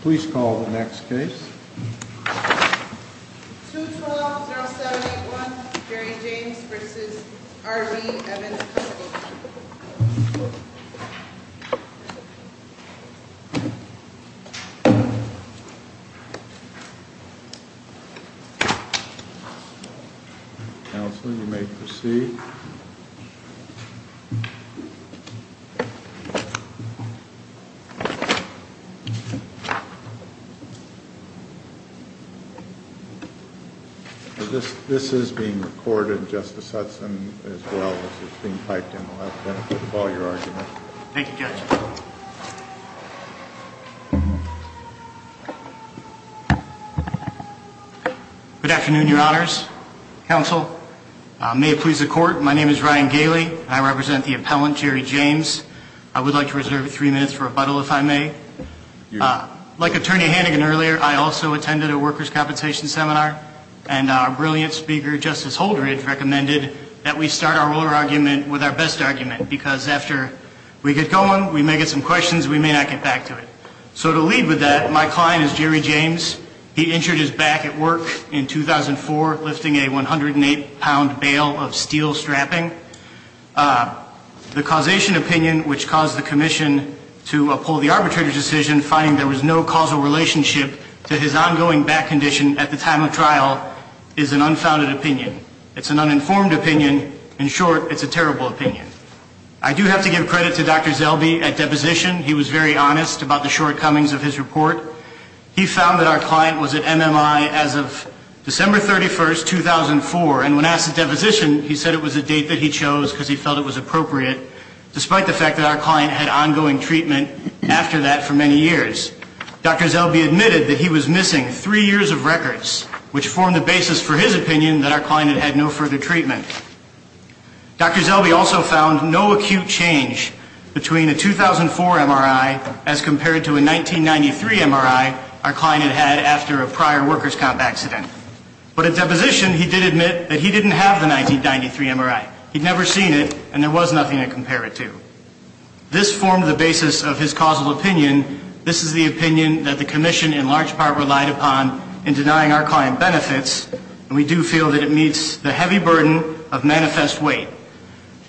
Please call the next case. 2-12-07-81 Jerry James v. R. G. Evans Counselor, you may proceed. This is being recorded, Justice Hudson, as well as it's being piped in. I'll have the benefit of all your arguments. Thank you, Judge. Good afternoon, Your Honors. Counsel, may it please the Court, my name is Ryan Gailey, and I represent the appellant, Jerry James. I would like to reserve three minutes for rebuttal, if I may. Like Attorney Hannigan earlier, I also attended a workers' compensation seminar, and our brilliant speaker, Justice Holdred, recommended that we start our oral argument with our best argument, because after we get going, we may get some questions, we may not get back to it. So to lead with that, my client is Jerry James. He injured his back at work in 2004, lifting a 108-pound bale of steel strapping. The causation opinion, which caused the Commission to uphold the arbitrator's decision, finding there was no causal relationship to his ongoing back condition at the time of trial, is an unfounded opinion. It's an uninformed opinion. In short, it's a terrible opinion. I do have to give credit to Dr. Zellbe at deposition. He was very honest about the shortcomings of his report. He found that our client was at MMI as of December 31st, 2004, and when asked at deposition, he said it was a date that he chose because he felt it was appropriate, despite the fact that our client had ongoing treatment after that for many years. Dr. Zellbe admitted that he was missing three years of records, which formed the basis for his opinion that our client had had no further treatment. Dr. Zellbe also found no acute change between a 2004 MRI as compared to a 1993 MRI our client had had after a prior workers' comp accident. But at deposition, he did admit that he didn't have the 1993 MRI. He'd never seen it, and there was nothing to compare it to. This formed the basis of his causal opinion. This is the opinion that the Commission in large part relied upon in denying our client benefits, and we do feel that it meets the heavy burden of manifest weight.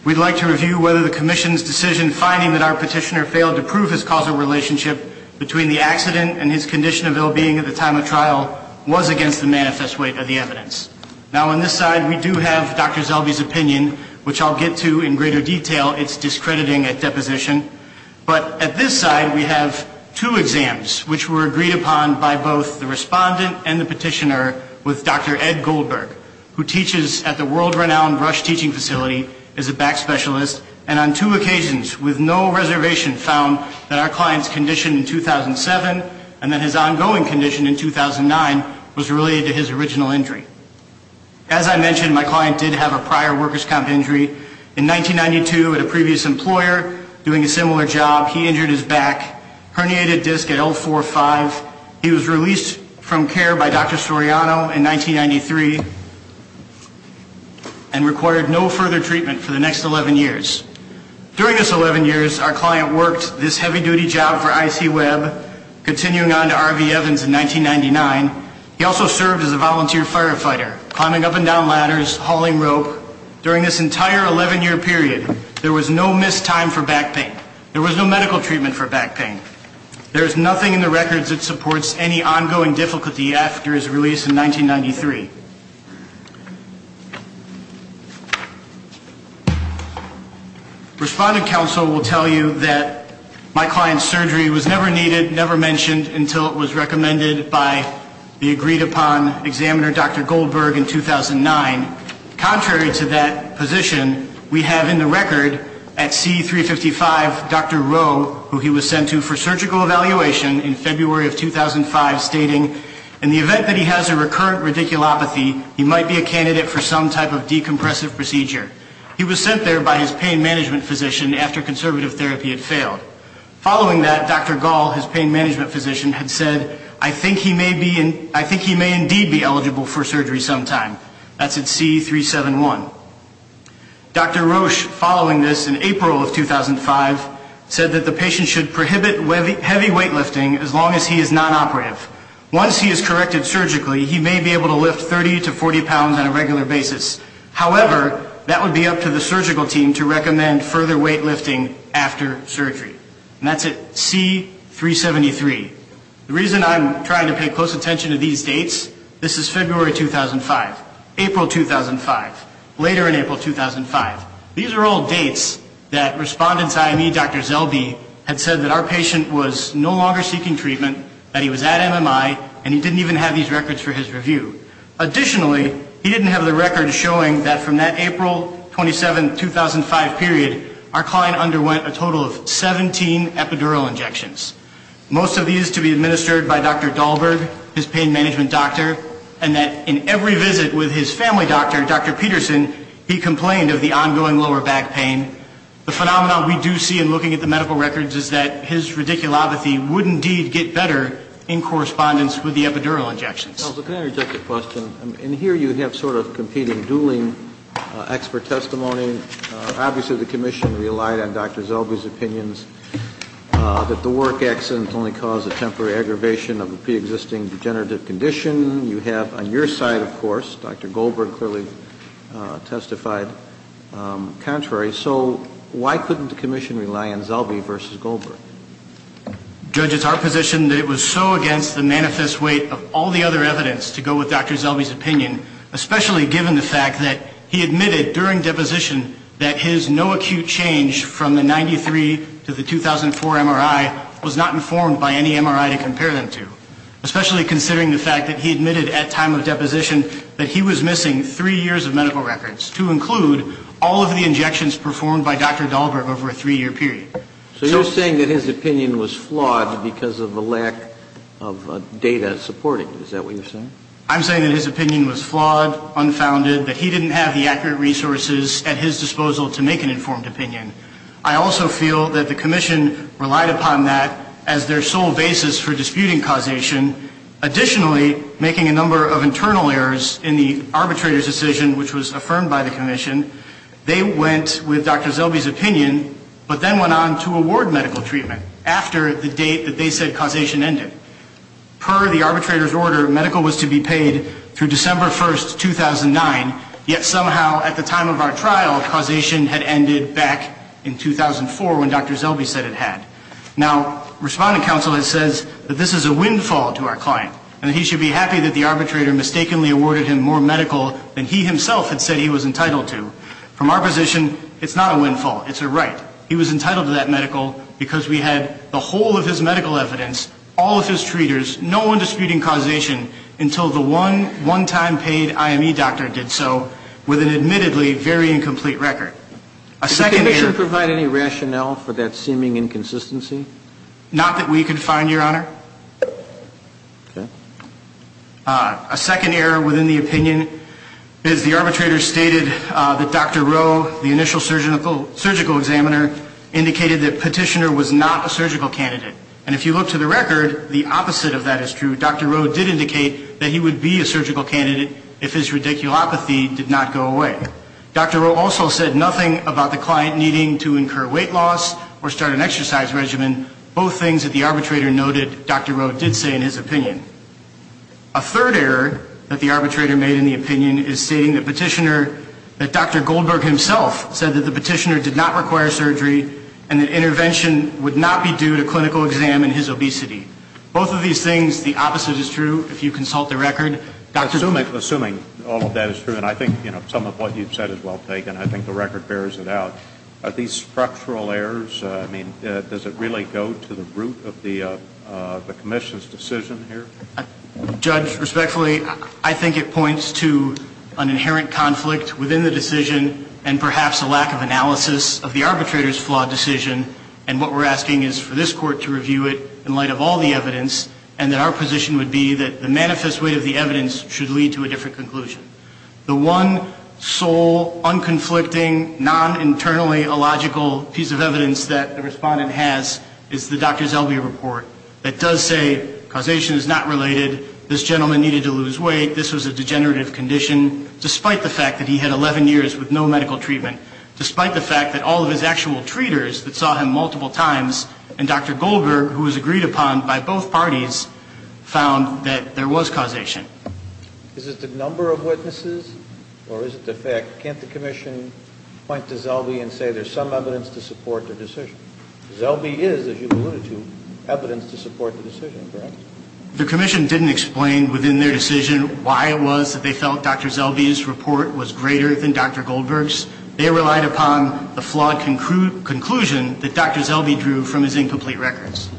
We'd like to review whether the Commission's decision finding that our petitioner failed to prove his causal relationship between the accident and his condition of ill-being at the time of trial was against the manifest weight of the evidence. Now, on this side, we do have Dr. Zellbe's opinion, which I'll get to in greater detail. It's discrediting at deposition. But at this side, we have two exams, which were agreed upon by both the respondent and the petitioner with Dr. Ed Goldberg, who teaches at the world-renowned Rush Teaching Facility, is a back specialist, and on two occasions, with no reservation, found that our client's condition in 2007 and that his ongoing condition in 2009 was related to his original injury. As I mentioned, my client did have a prior workers' comp injury. In 1992, at a previous employer, doing a similar job, he injured his back, herniated disc at L4-5. He was released from care by Dr. Soriano in 1993 and required no further treatment for the next 11 years. During those 11 years, our client worked this heavy-duty job for IC-Web, continuing on to R.V. Evans in 1999. He also served as a volunteer firefighter, climbing up and down ladders, hauling rope. During this entire 11-year period, there was no missed time for back pain. There was no medical treatment for back pain. There is nothing in the records that supports any ongoing difficulty after his release in 1993. Respondent counsel will tell you that my client's surgery was never needed, never mentioned, until it was recommended by the agreed-upon examiner, Dr. Goldberg, in 2009. Contrary to that position, we have in the record at C-355, Dr. Rowe, who he was sent to for surgical evaluation in February of 2005, stating, in the event that he has a recurrent radiculopathy, he might be a candidate for some type of decompressive procedure. He was sent there by his pain management physician after conservative therapy had failed. Following that, Dr. Gall, his pain management physician, had said, I think he may indeed be eligible for surgery sometime. That's at C-371. Dr. Roche, following this in April of 2005, said that the patient should prohibit heavy weightlifting as long as he is nonoperative. Once he is corrected surgically, he may be able to lift 30 to 40 pounds on a regular basis. However, that would be up to the surgical team to recommend further weightlifting after surgery. And that's at C-373. The reason I'm trying to pay close attention to these dates, this is February 2005, April 2005, later in April 2005. These are all dates that respondent's IME, Dr. Zellbe, had said that our patient was no longer seeking treatment, that he was at MMI, and he didn't even have these records for his review. Additionally, he didn't have the records showing that from that April 27, 2005 period, our client underwent a total of 17 epidural injections. Most of these to be administered by Dr. Dahlberg, his pain management doctor, and that in every visit with his family doctor, Dr. Peterson, he complained of the ongoing lower back pain. The phenomenon we do see in looking at the medical records is that his radiculopathy would indeed get better in correspondence with the epidural injections. Can I interject a question? In here, you have sort of competing dueling expert testimony. Obviously, the commission relied on Dr. Zellbe's opinions that the work on the epidural injections would be more effective. The work accident only caused a temporary aggravation of a pre-existing degenerative condition. You have on your side, of course, Dr. Goldberg clearly testified contrary. So why couldn't the commission rely on Zellbe versus Goldberg? Judge, it's our position that it was so against the manifest weight of all the other evidence to go with Dr. Zellbe's opinion, especially given the fact that he admitted during deposition that his no acute change from the 93 to the 2004 MRI was a temporary aggravation. And that he was not informed by any MRI to compare them to, especially considering the fact that he admitted at time of deposition that he was missing three years of medical records, to include all of the injections performed by Dr. Goldberg over a three-year period. So you're saying that his opinion was flawed because of the lack of data supporting it. Is that what you're saying? I'm saying that his opinion was flawed, unfounded, that he didn't have the accurate resources at his disposal to make an informed opinion. I also feel that the commission relied upon that as their sole basis for disputing causation. Additionally, making a number of internal errors in the arbitrator's decision, which was affirmed by the commission, they went with Dr. Zellbe's opinion, but then went on to award medical treatment after the date that they said causation ended. Per the arbitrator's order, medical was to be paid through December 1, 2009. Yet somehow, at the time of our trial, causation had ended back in 2004, when Dr. Zellbe said it had. Now, Respondent Counsel has said that this is a windfall to our client, and that he should be happy that the arbitrator mistakenly awarded him more medical than he himself had said he was entitled to. From our position, it's not a windfall. It's a right. He was entitled to that medical because we had the whole of his medical evidence, all of his treaters, no one disputing causation until the one one-time paid IME doctor did so. With an admittedly very incomplete record. Does the commission provide any rationale for that seeming inconsistency? Not that we could find, Your Honor. A second error within the opinion is the arbitrator stated that Dr. Rowe, the initial surgical examiner, indicated that Petitioner was not a surgical candidate. And if you look to the record, the opposite of that is true. Dr. Rowe did indicate that he would be a surgical candidate if his radiculopathy did not go away. Dr. Rowe also said nothing about the client needing to incur weight loss or start an exercise regimen. Both things that the arbitrator noted Dr. Rowe did say in his opinion. A third error that the arbitrator made in the opinion is stating that Petitioner, that Dr. Goldberg himself said that the Petitioner did not require surgery and that intervention would not be due to clinical exam and his obesity. Both of these things, the opposite is true if you consult the record. Assuming all of that is true, and I think some of what you've said is well taken, I think the record bears it out. Are these structural errors? I mean, does it really go to the root of the commission's decision here? Judge, respectfully, I think it points to an inherent conflict within the decision and perhaps a lack of analysis of the arbitrator's flawed decision. And what we're asking is for this court to review it in light of all the evidence and that our position would be that the manifest weight of the evidence should lead to a different conclusion. The one sole, unconflicting, non-internally illogical piece of evidence that the respondent has is the Dr. Zellweger report that does say causation is not related, this gentleman needed to lose weight, this was a degenerative condition, despite the fact that he had 11 years with no medical treatment, despite the fact that all of his actual treaters that saw him multiple times and Dr. Goldberg, who was agreed upon by both parties, found that there was causation. Is it the number of witnesses or is it the fact, can't the commission point to Zellweger and say there's some evidence to support the decision? Zellweger is, as you alluded to, evidence to support the decision, correct? The commission didn't explain within their decision why it was that they felt Dr. Zellweger's report was greater than Dr. Goldberg's. They relied upon the flawed conclusion that Dr. Zellweger drew from his incomplete records.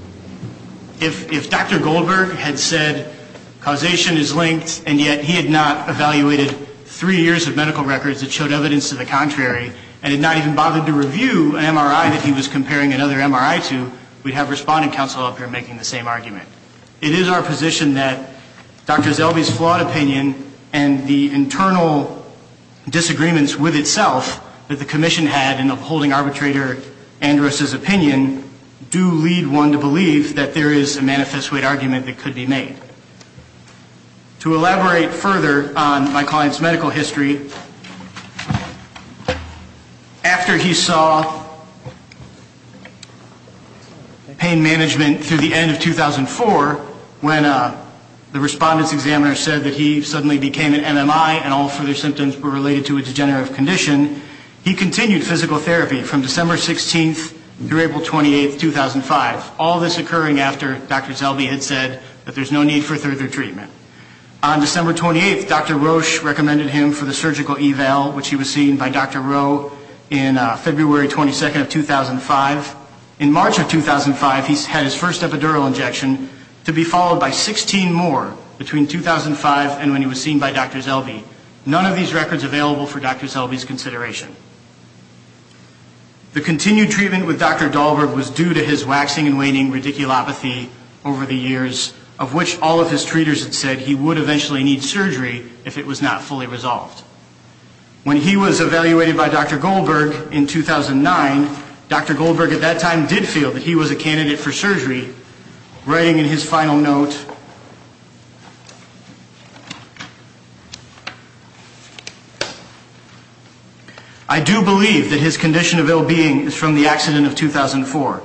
If Dr. Goldberg had said causation is linked, and yet he had not evaluated three years of medical records that showed evidence to the contrary, and had not even bothered to review an MRI that he was comparing another MRI to, we'd have respondent counsel up here making the same argument. It is our position that Dr. Zellweger's flawed opinion and the internal disagreements with itself that the commission had in upholding arbitrator Andrus' opinion do lead one to believe that Dr. Zellweger's report is greater than Dr. Goldberg's. And we believe that there is a manifest weight argument that could be made. To elaborate further on my client's medical history, after he saw pain management through the end of 2004, when the respondent's examiner said that he suddenly became an MMI and all further symptoms were related to a degenerative condition, he continued physical therapy from December 16th through April 28th, 2005. We saw this occurring after Dr. Zellweger had said that there's no need for further treatment. On December 28th, Dr. Roche recommended him for the surgical eval, which he was seen by Dr. Rowe in February 22nd of 2005. In March of 2005, he had his first epidural injection, to be followed by 16 more between 2005 and when he was seen by Dr. Zellweger. None of these records available for Dr. Zellweger's consideration. The continued treatment with Dr. Goldberg was due to his waxing and waning radiculopathy over the years, of which all of his treaters had said he would eventually need surgery if it was not fully resolved. When he was evaluated by Dr. Goldberg in 2009, Dr. Goldberg at that time did feel that he was a candidate for surgery, writing in his final note, I do believe that his condition of ill-being is from the accident of 2004.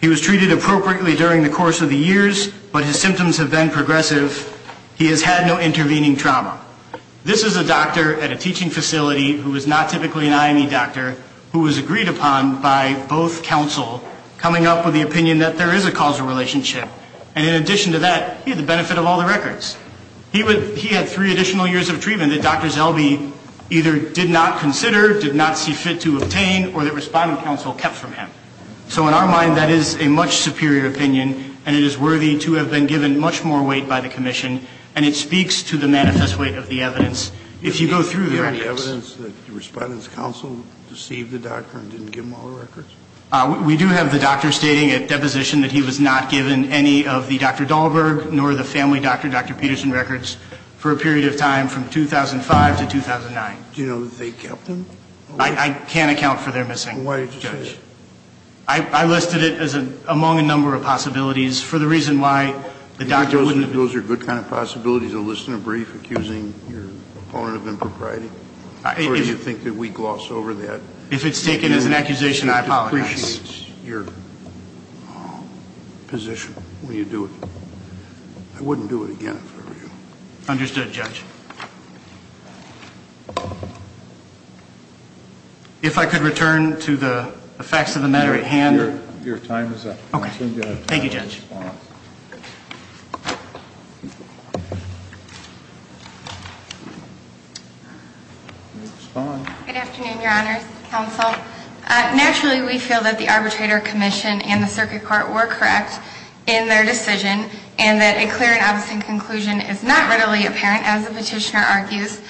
He was treated appropriately during the course of the years, but his symptoms have been progressive. He has had no intervening trauma. This is a doctor at a teaching facility who is not typically an IME doctor, who was agreed upon by both counsel, coming up with the opinion that there is a causal relationship. And in addition to that, he had the benefit of all the records. He had three additional years of treatment that Dr. Zellweger either did not consider, did not see fit to obtain, or that respondent counsel kept from him. So in our mind, that is a much superior opinion, and it is worthy to have been given much more weight by the commission, and it speaks to the manifest weight of the evidence. If you go through the records. Do you have evidence that the respondent's counsel deceived the doctor and didn't give him all the records? We do have the doctor stating at deposition that he was not given any of the Dr. Goldberg nor the family doctor, Dr. Peterson, records for a period of time from 2005 to 2009. Do you know that they kept them? I can't account for their missing, Judge. I listed it as among a number of possibilities for the reason why the doctor wouldn't Those are good kind of possibilities, a list and a brief accusing your opponent of impropriety? Or do you think that we gloss over that? If it's taken as an accusation, I apologize. It depreciates your position when you do it. I wouldn't do it again if I were you. Understood, Judge. If I could return to the facts of the matter at hand. Your time is up. Thank you, Judge. Good afternoon, Your Honor. Naturally, we feel that the arbitrator commission and the circuit court were correct in their decision and that a clear and obvious conclusion is not readily apparent, as the petitioner argues.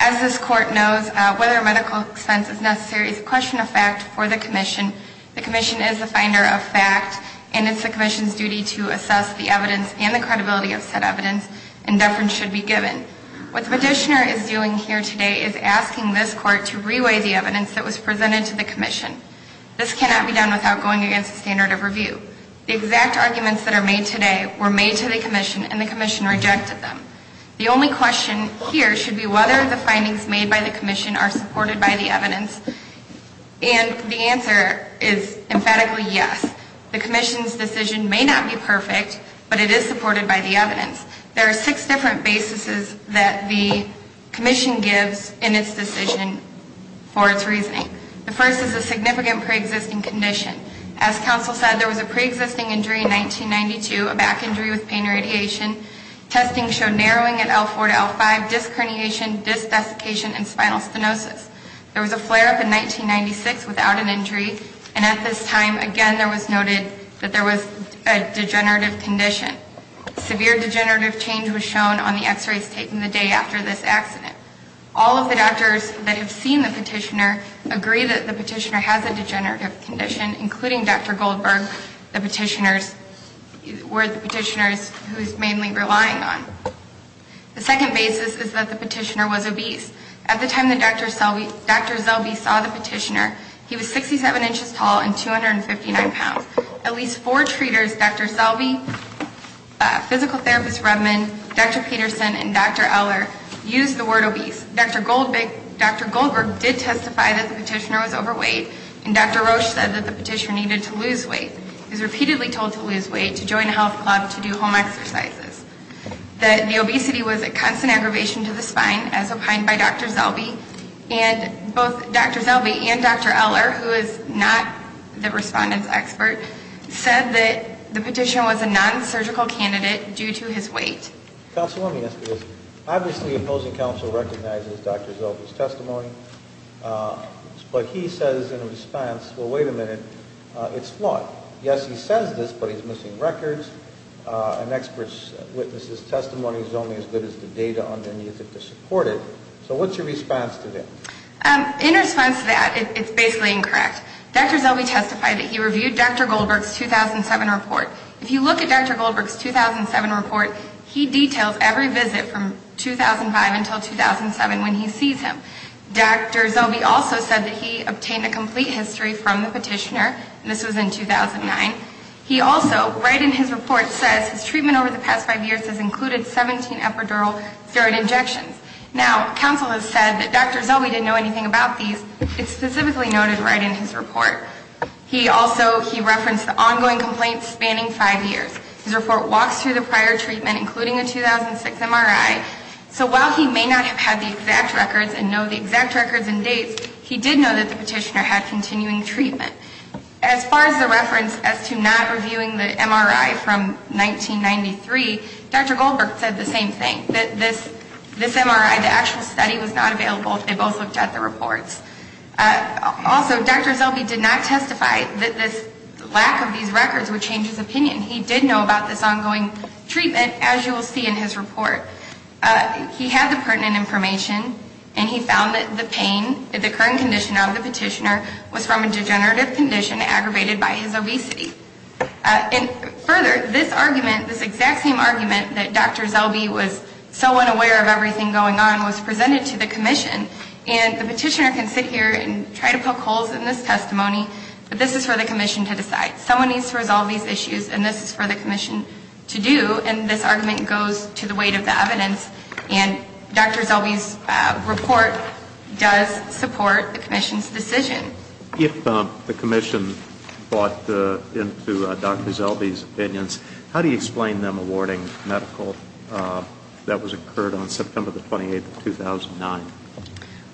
As this court knows, whether medical expense is necessary is a question of fact for the commission. The commission is the finder of fact, and it's the commission's duty to assess the evidence and the credibility of said evidence, and deference should be given. What the petitioner is doing here today is asking this court to reweigh the evidence that was presented to the commission. This cannot be done without going against the standard of review. The exact arguments that are made today were made to the commission, and the commission rejected them. The only question here should be whether the findings made by the commission are supported by the evidence, and the answer is emphatically yes. The commission's decision may not be perfect, but it is supported by the evidence. There are six different basis that the commission gives in its decision for its reasoning. The first is a significant preexisting condition. As counsel said, there was a preexisting injury in 1992, a back injury with pain radiation. Testing showed narrowing at L4 to L5, disc herniation, disc desiccation, and spinal stenosis. There was a flare-up in 1996 without an injury, and at this time, again, there was noted that there was a degenerative condition. Severe degenerative change was shown on the x-rays taken the day after this accident. All of the doctors that have seen the petitioner agree that the petitioner has a degenerative condition, including Dr. Goldberg, the petitioner's, who is mainly relying on. The second basis is that the petitioner was obese. At the time that Dr. Zelby saw the petitioner, he was 67 inches tall and 259 pounds. At least four treaters, Dr. Zelby, physical therapist Redman, Dr. Peterson, and Dr. Eller, used the word obese. Dr. Goldberg did testify that the petitioner was overweight, and Dr. Roche said that the petitioner needed to lose weight. He was repeatedly told to lose weight, to join a health club, to do home exercises. That the obesity was a constant aggravation to the spine, as opined by Dr. Zelby, and both Dr. Zelby and Dr. Eller, who is not the respondent's expert, said that the petitioner was a non-surgical candidate due to his weight. Counsel, let me ask you this. Obviously, opposing counsel recognizes Dr. Zelby's testimony, but he says in response, well, wait a minute, it's flawed. Yes, he says this, but he's missing records. An expert's witness's testimony is only as good as the data on the music to support it. So what's your response to that? In response to that, it's basically incorrect. Dr. Zelby testified that he reviewed Dr. Goldberg's 2007 report. If you look at Dr. Goldberg's 2007 report, he details every visit from 2005 until 2007 when he sees him. Dr. Zelby also said that he obtained a complete history from the petitioner, and this was in 2009. He also, right in his report, says his treatment over the past five years has included 17 epidural steroid injections. Now, counsel has said that Dr. Zelby didn't know anything about these. It's specifically noted right in his report. He also referenced the ongoing complaints spanning five years. His report walks through the prior treatment, including a 2006 MRI. So while he may not have had the exact records and know the exact records and dates, he did know that the petitioner had continuing treatment. As far as the reference as to not reviewing the MRI from 1993, Dr. Goldberg said the same thing, that this MRI, the actual study was not available. They both looked at the reports. Also, Dr. Zelby did not testify that this lack of these records would change his opinion. He did know about this ongoing treatment, as you will see in his report. He had the pertinent information, and he found that the pain, the current condition of the petitioner, was from a degenerative condition aggravated by his obesity. And further, this argument, this exact same argument that Dr. Zelby was so unaware of everything going on was presented to the commission. And the petitioner can sit here and try to poke holes in this testimony, but this is for the commission to decide. Someone needs to resolve these issues, and this is for the commission to do. And this argument goes to the weight of the evidence, and Dr. Zelby's report does support the commission's decision. If the commission bought into Dr. Zelby's opinions, how do you explain them awarding medical that was incurred on September the 28th of 2009?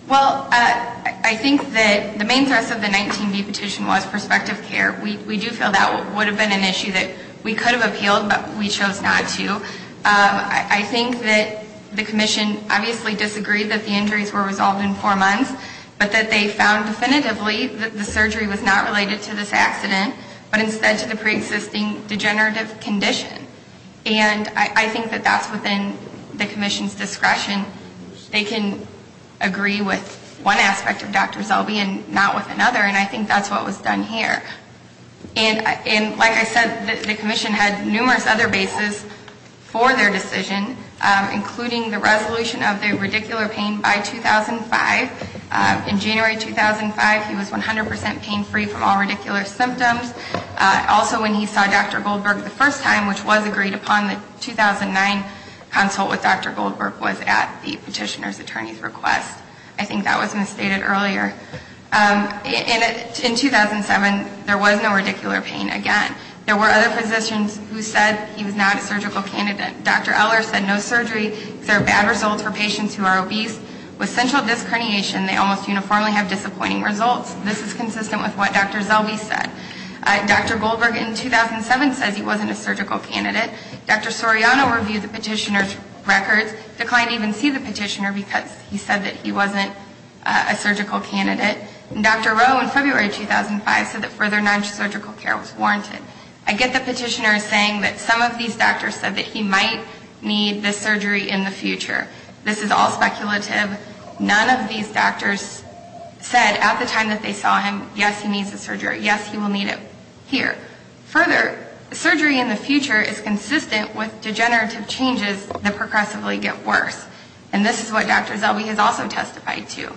Well, I think that the main thrust of the 19B petition was prospective care. We do feel that would have been an issue that we could have appealed, but we chose not to. I think that the commission obviously disagreed that the injuries were resolved in four months, but that they found definitively that the surgery was not related to this accident, but instead to the preexisting degenerative condition. And I think that that's within the commission's discretion. They can agree with one aspect of Dr. Zelby and not with another, and I think that's what was done here. And like I said, the commission had numerous other bases for their decision, including the resolution of the radicular pain by 2005. In January 2005, he was 100% pain-free from all radicular symptoms. Also, when he saw Dr. Goldberg the first time, which was agreed upon, the 2009 consult with Dr. Goldberg was at the petitioner's attorney's request. I think that was misstated earlier. In 2007, there was no radicular pain again. There were other physicians who said he was not a surgical candidate. Dr. Eller said no surgery, because there are bad results for patients who are obese. With central disc herniation, they almost uniformly have disappointing results. This is consistent with what Dr. Zelby said. Dr. Goldberg in 2007 says he wasn't a surgical candidate. Dr. Soriano reviewed the petitioner's records, declined to even see the petitioner because he said that he wasn't a surgical candidate. And Dr. Rowe in February 2005 said that further non-surgical care was warranted. I get the petitioner saying that some of these doctors said that he might need this surgery in the future. This is all speculative. None of these doctors said at the time that they saw him, yes, he needs the surgery. Yes, he will need it here. Further, surgery in the future is consistent with degenerative changes that progressively get worse. And this is what Dr. Zelby has also testified to.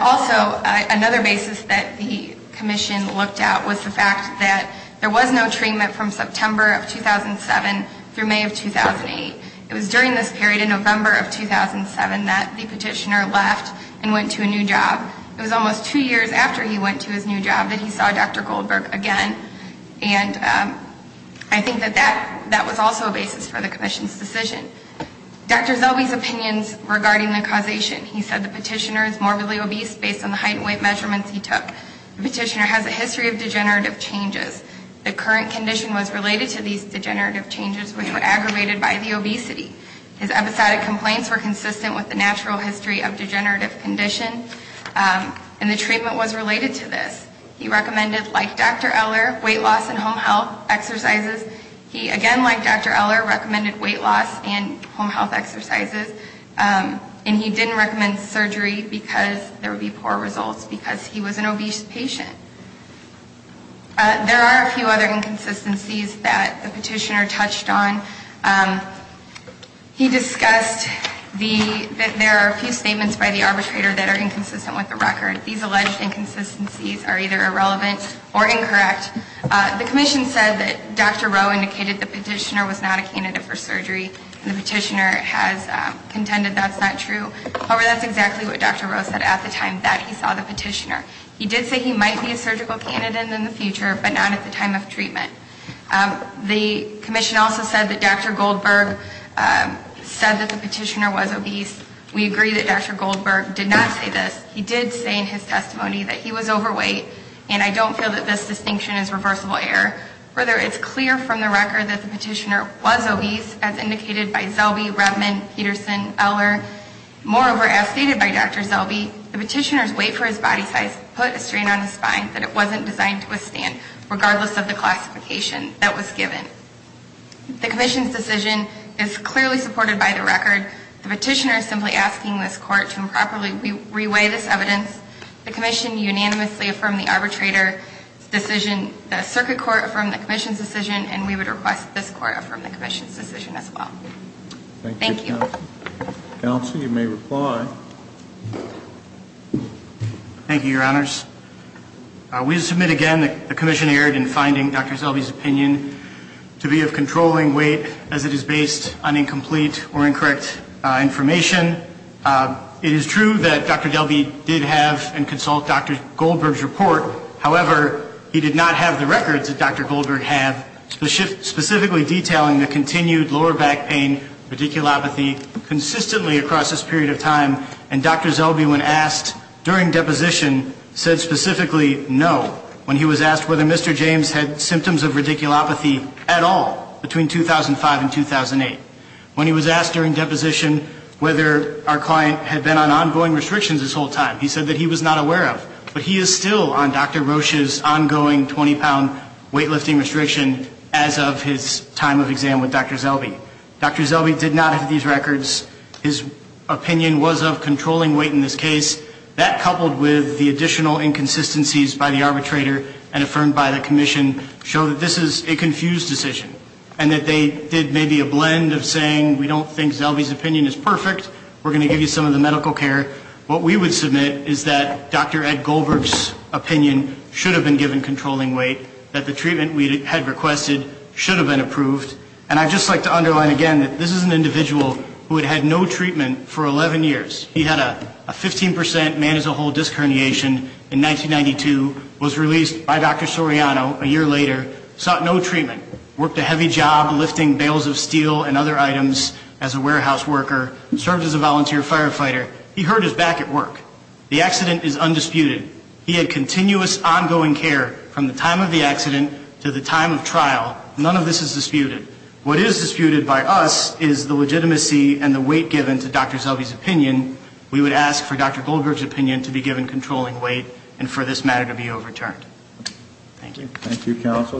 Also, another basis that the commission looked at was the fact that there was no treatment from September of 2007 through May of 2008. It was during this period in November of 2007 that the petitioner left and went to a new job. It was almost two years after he went to his new job that he saw Dr. Goldberg again. And I think that that was also a basis for the commission's decision. Dr. Zelby's opinions regarding the causation. He said the petitioner is morbidly obese based on the height and weight measurements he took. The petitioner has a history of degenerative changes. The current condition was related to these degenerative changes which were aggravated by the obesity. His episodic complaints were consistent with the natural history of degenerative condition. And the treatment was related to this. He recommended, like Dr. Eller, weight loss and home health exercises. He, again, like Dr. Eller, recommended weight loss and home health exercises. And he didn't recommend surgery because there would be poor results because he was an obese patient. There are a few other inconsistencies that the petitioner touched on. He discussed that there are a few statements by the arbitrator that are inconsistent with the record. These alleged inconsistencies are either irrelevant or incorrect. The commission said that Dr. Rowe indicated the petitioner was not a candidate for surgery. And the petitioner has contended that's not true. However, that's exactly what Dr. Rowe said at the time that he saw the petitioner. He did say he might be a surgical candidate in the future, but not at the time of treatment. The commission also said that Dr. Goldberg said that the petitioner was obese. We agree that Dr. Goldberg did not say this. He did say in his testimony that he was overweight, and I don't feel that this distinction is reversible error. Further, it's clear from the record that the petitioner was obese, as indicated by Zellbe, Rebman, Peterson, Eller. Moreover, as stated by Dr. Zellbe, the petitioner's weight for his body size put a strain on his spine that it wasn't designed to withstand, regardless of the classification that was given. The commission's decision is clearly supported by the record. The petitioner is simply asking this court to improperly re-weigh this evidence. The commission unanimously affirmed the arbitrator's decision. The circuit court affirmed the commission's decision, and we would request that this court affirm the commission's decision as well. Thank you. Counsel, you may reply. Thank you, Your Honors. We submit again that the commission erred in finding Dr. Zellbe's opinion to be of controlling weight as it is based on incomplete or incorrect information. It is true that Dr. Zellbe did have and consult Dr. Goldberg's report. However, he did not have the records that Dr. Goldberg had, specifically detailing the continued lower back pain, radiculopathy, consistently across this period of time. And Dr. Zellbe, when asked during deposition, said specifically no, when he was asked whether Mr. James had symptoms of radiculopathy at all between 2005 and 2008. When he was asked during deposition whether our client had been on ongoing restrictions this whole time, he said that he was not aware of. But he is still on Dr. Rocha's ongoing 20-pound weightlifting restriction as of his time of exam with Dr. Zellbe. Dr. Zellbe did not have these records. His opinion was of controlling weight in this case. That, coupled with the additional inconsistencies by the arbitrator and affirmed by the commission, show that this is a confused decision, and that they did maybe a blend of saying, we don't think Zellbe's opinion is perfect, we're going to give you some of the medical care. What we would submit is that Dr. Ed Goldberg's opinion should have been given controlling weight, that the treatment we had requested should have been approved. And I'd just like to underline again that this is an individual who had had no treatment for 11 years. He had a 15% man as a whole disc herniation in 1992, was released by Dr. Soriano a year later, sought no treatment, worked a heavy job lifting bales of steel and other items as a warehouse worker, served as a volunteer firefighter. He hurt his back at work. The accident is undisputed. He had continuous ongoing care from the time of the accident to the time of trial. None of this is disputed. What is disputed by us is the legitimacy and the weight given to Dr. Zellbe's opinion. We would ask for Dr. Goldberg's opinion to be given controlling weight and for this matter to be overturned. Thank you.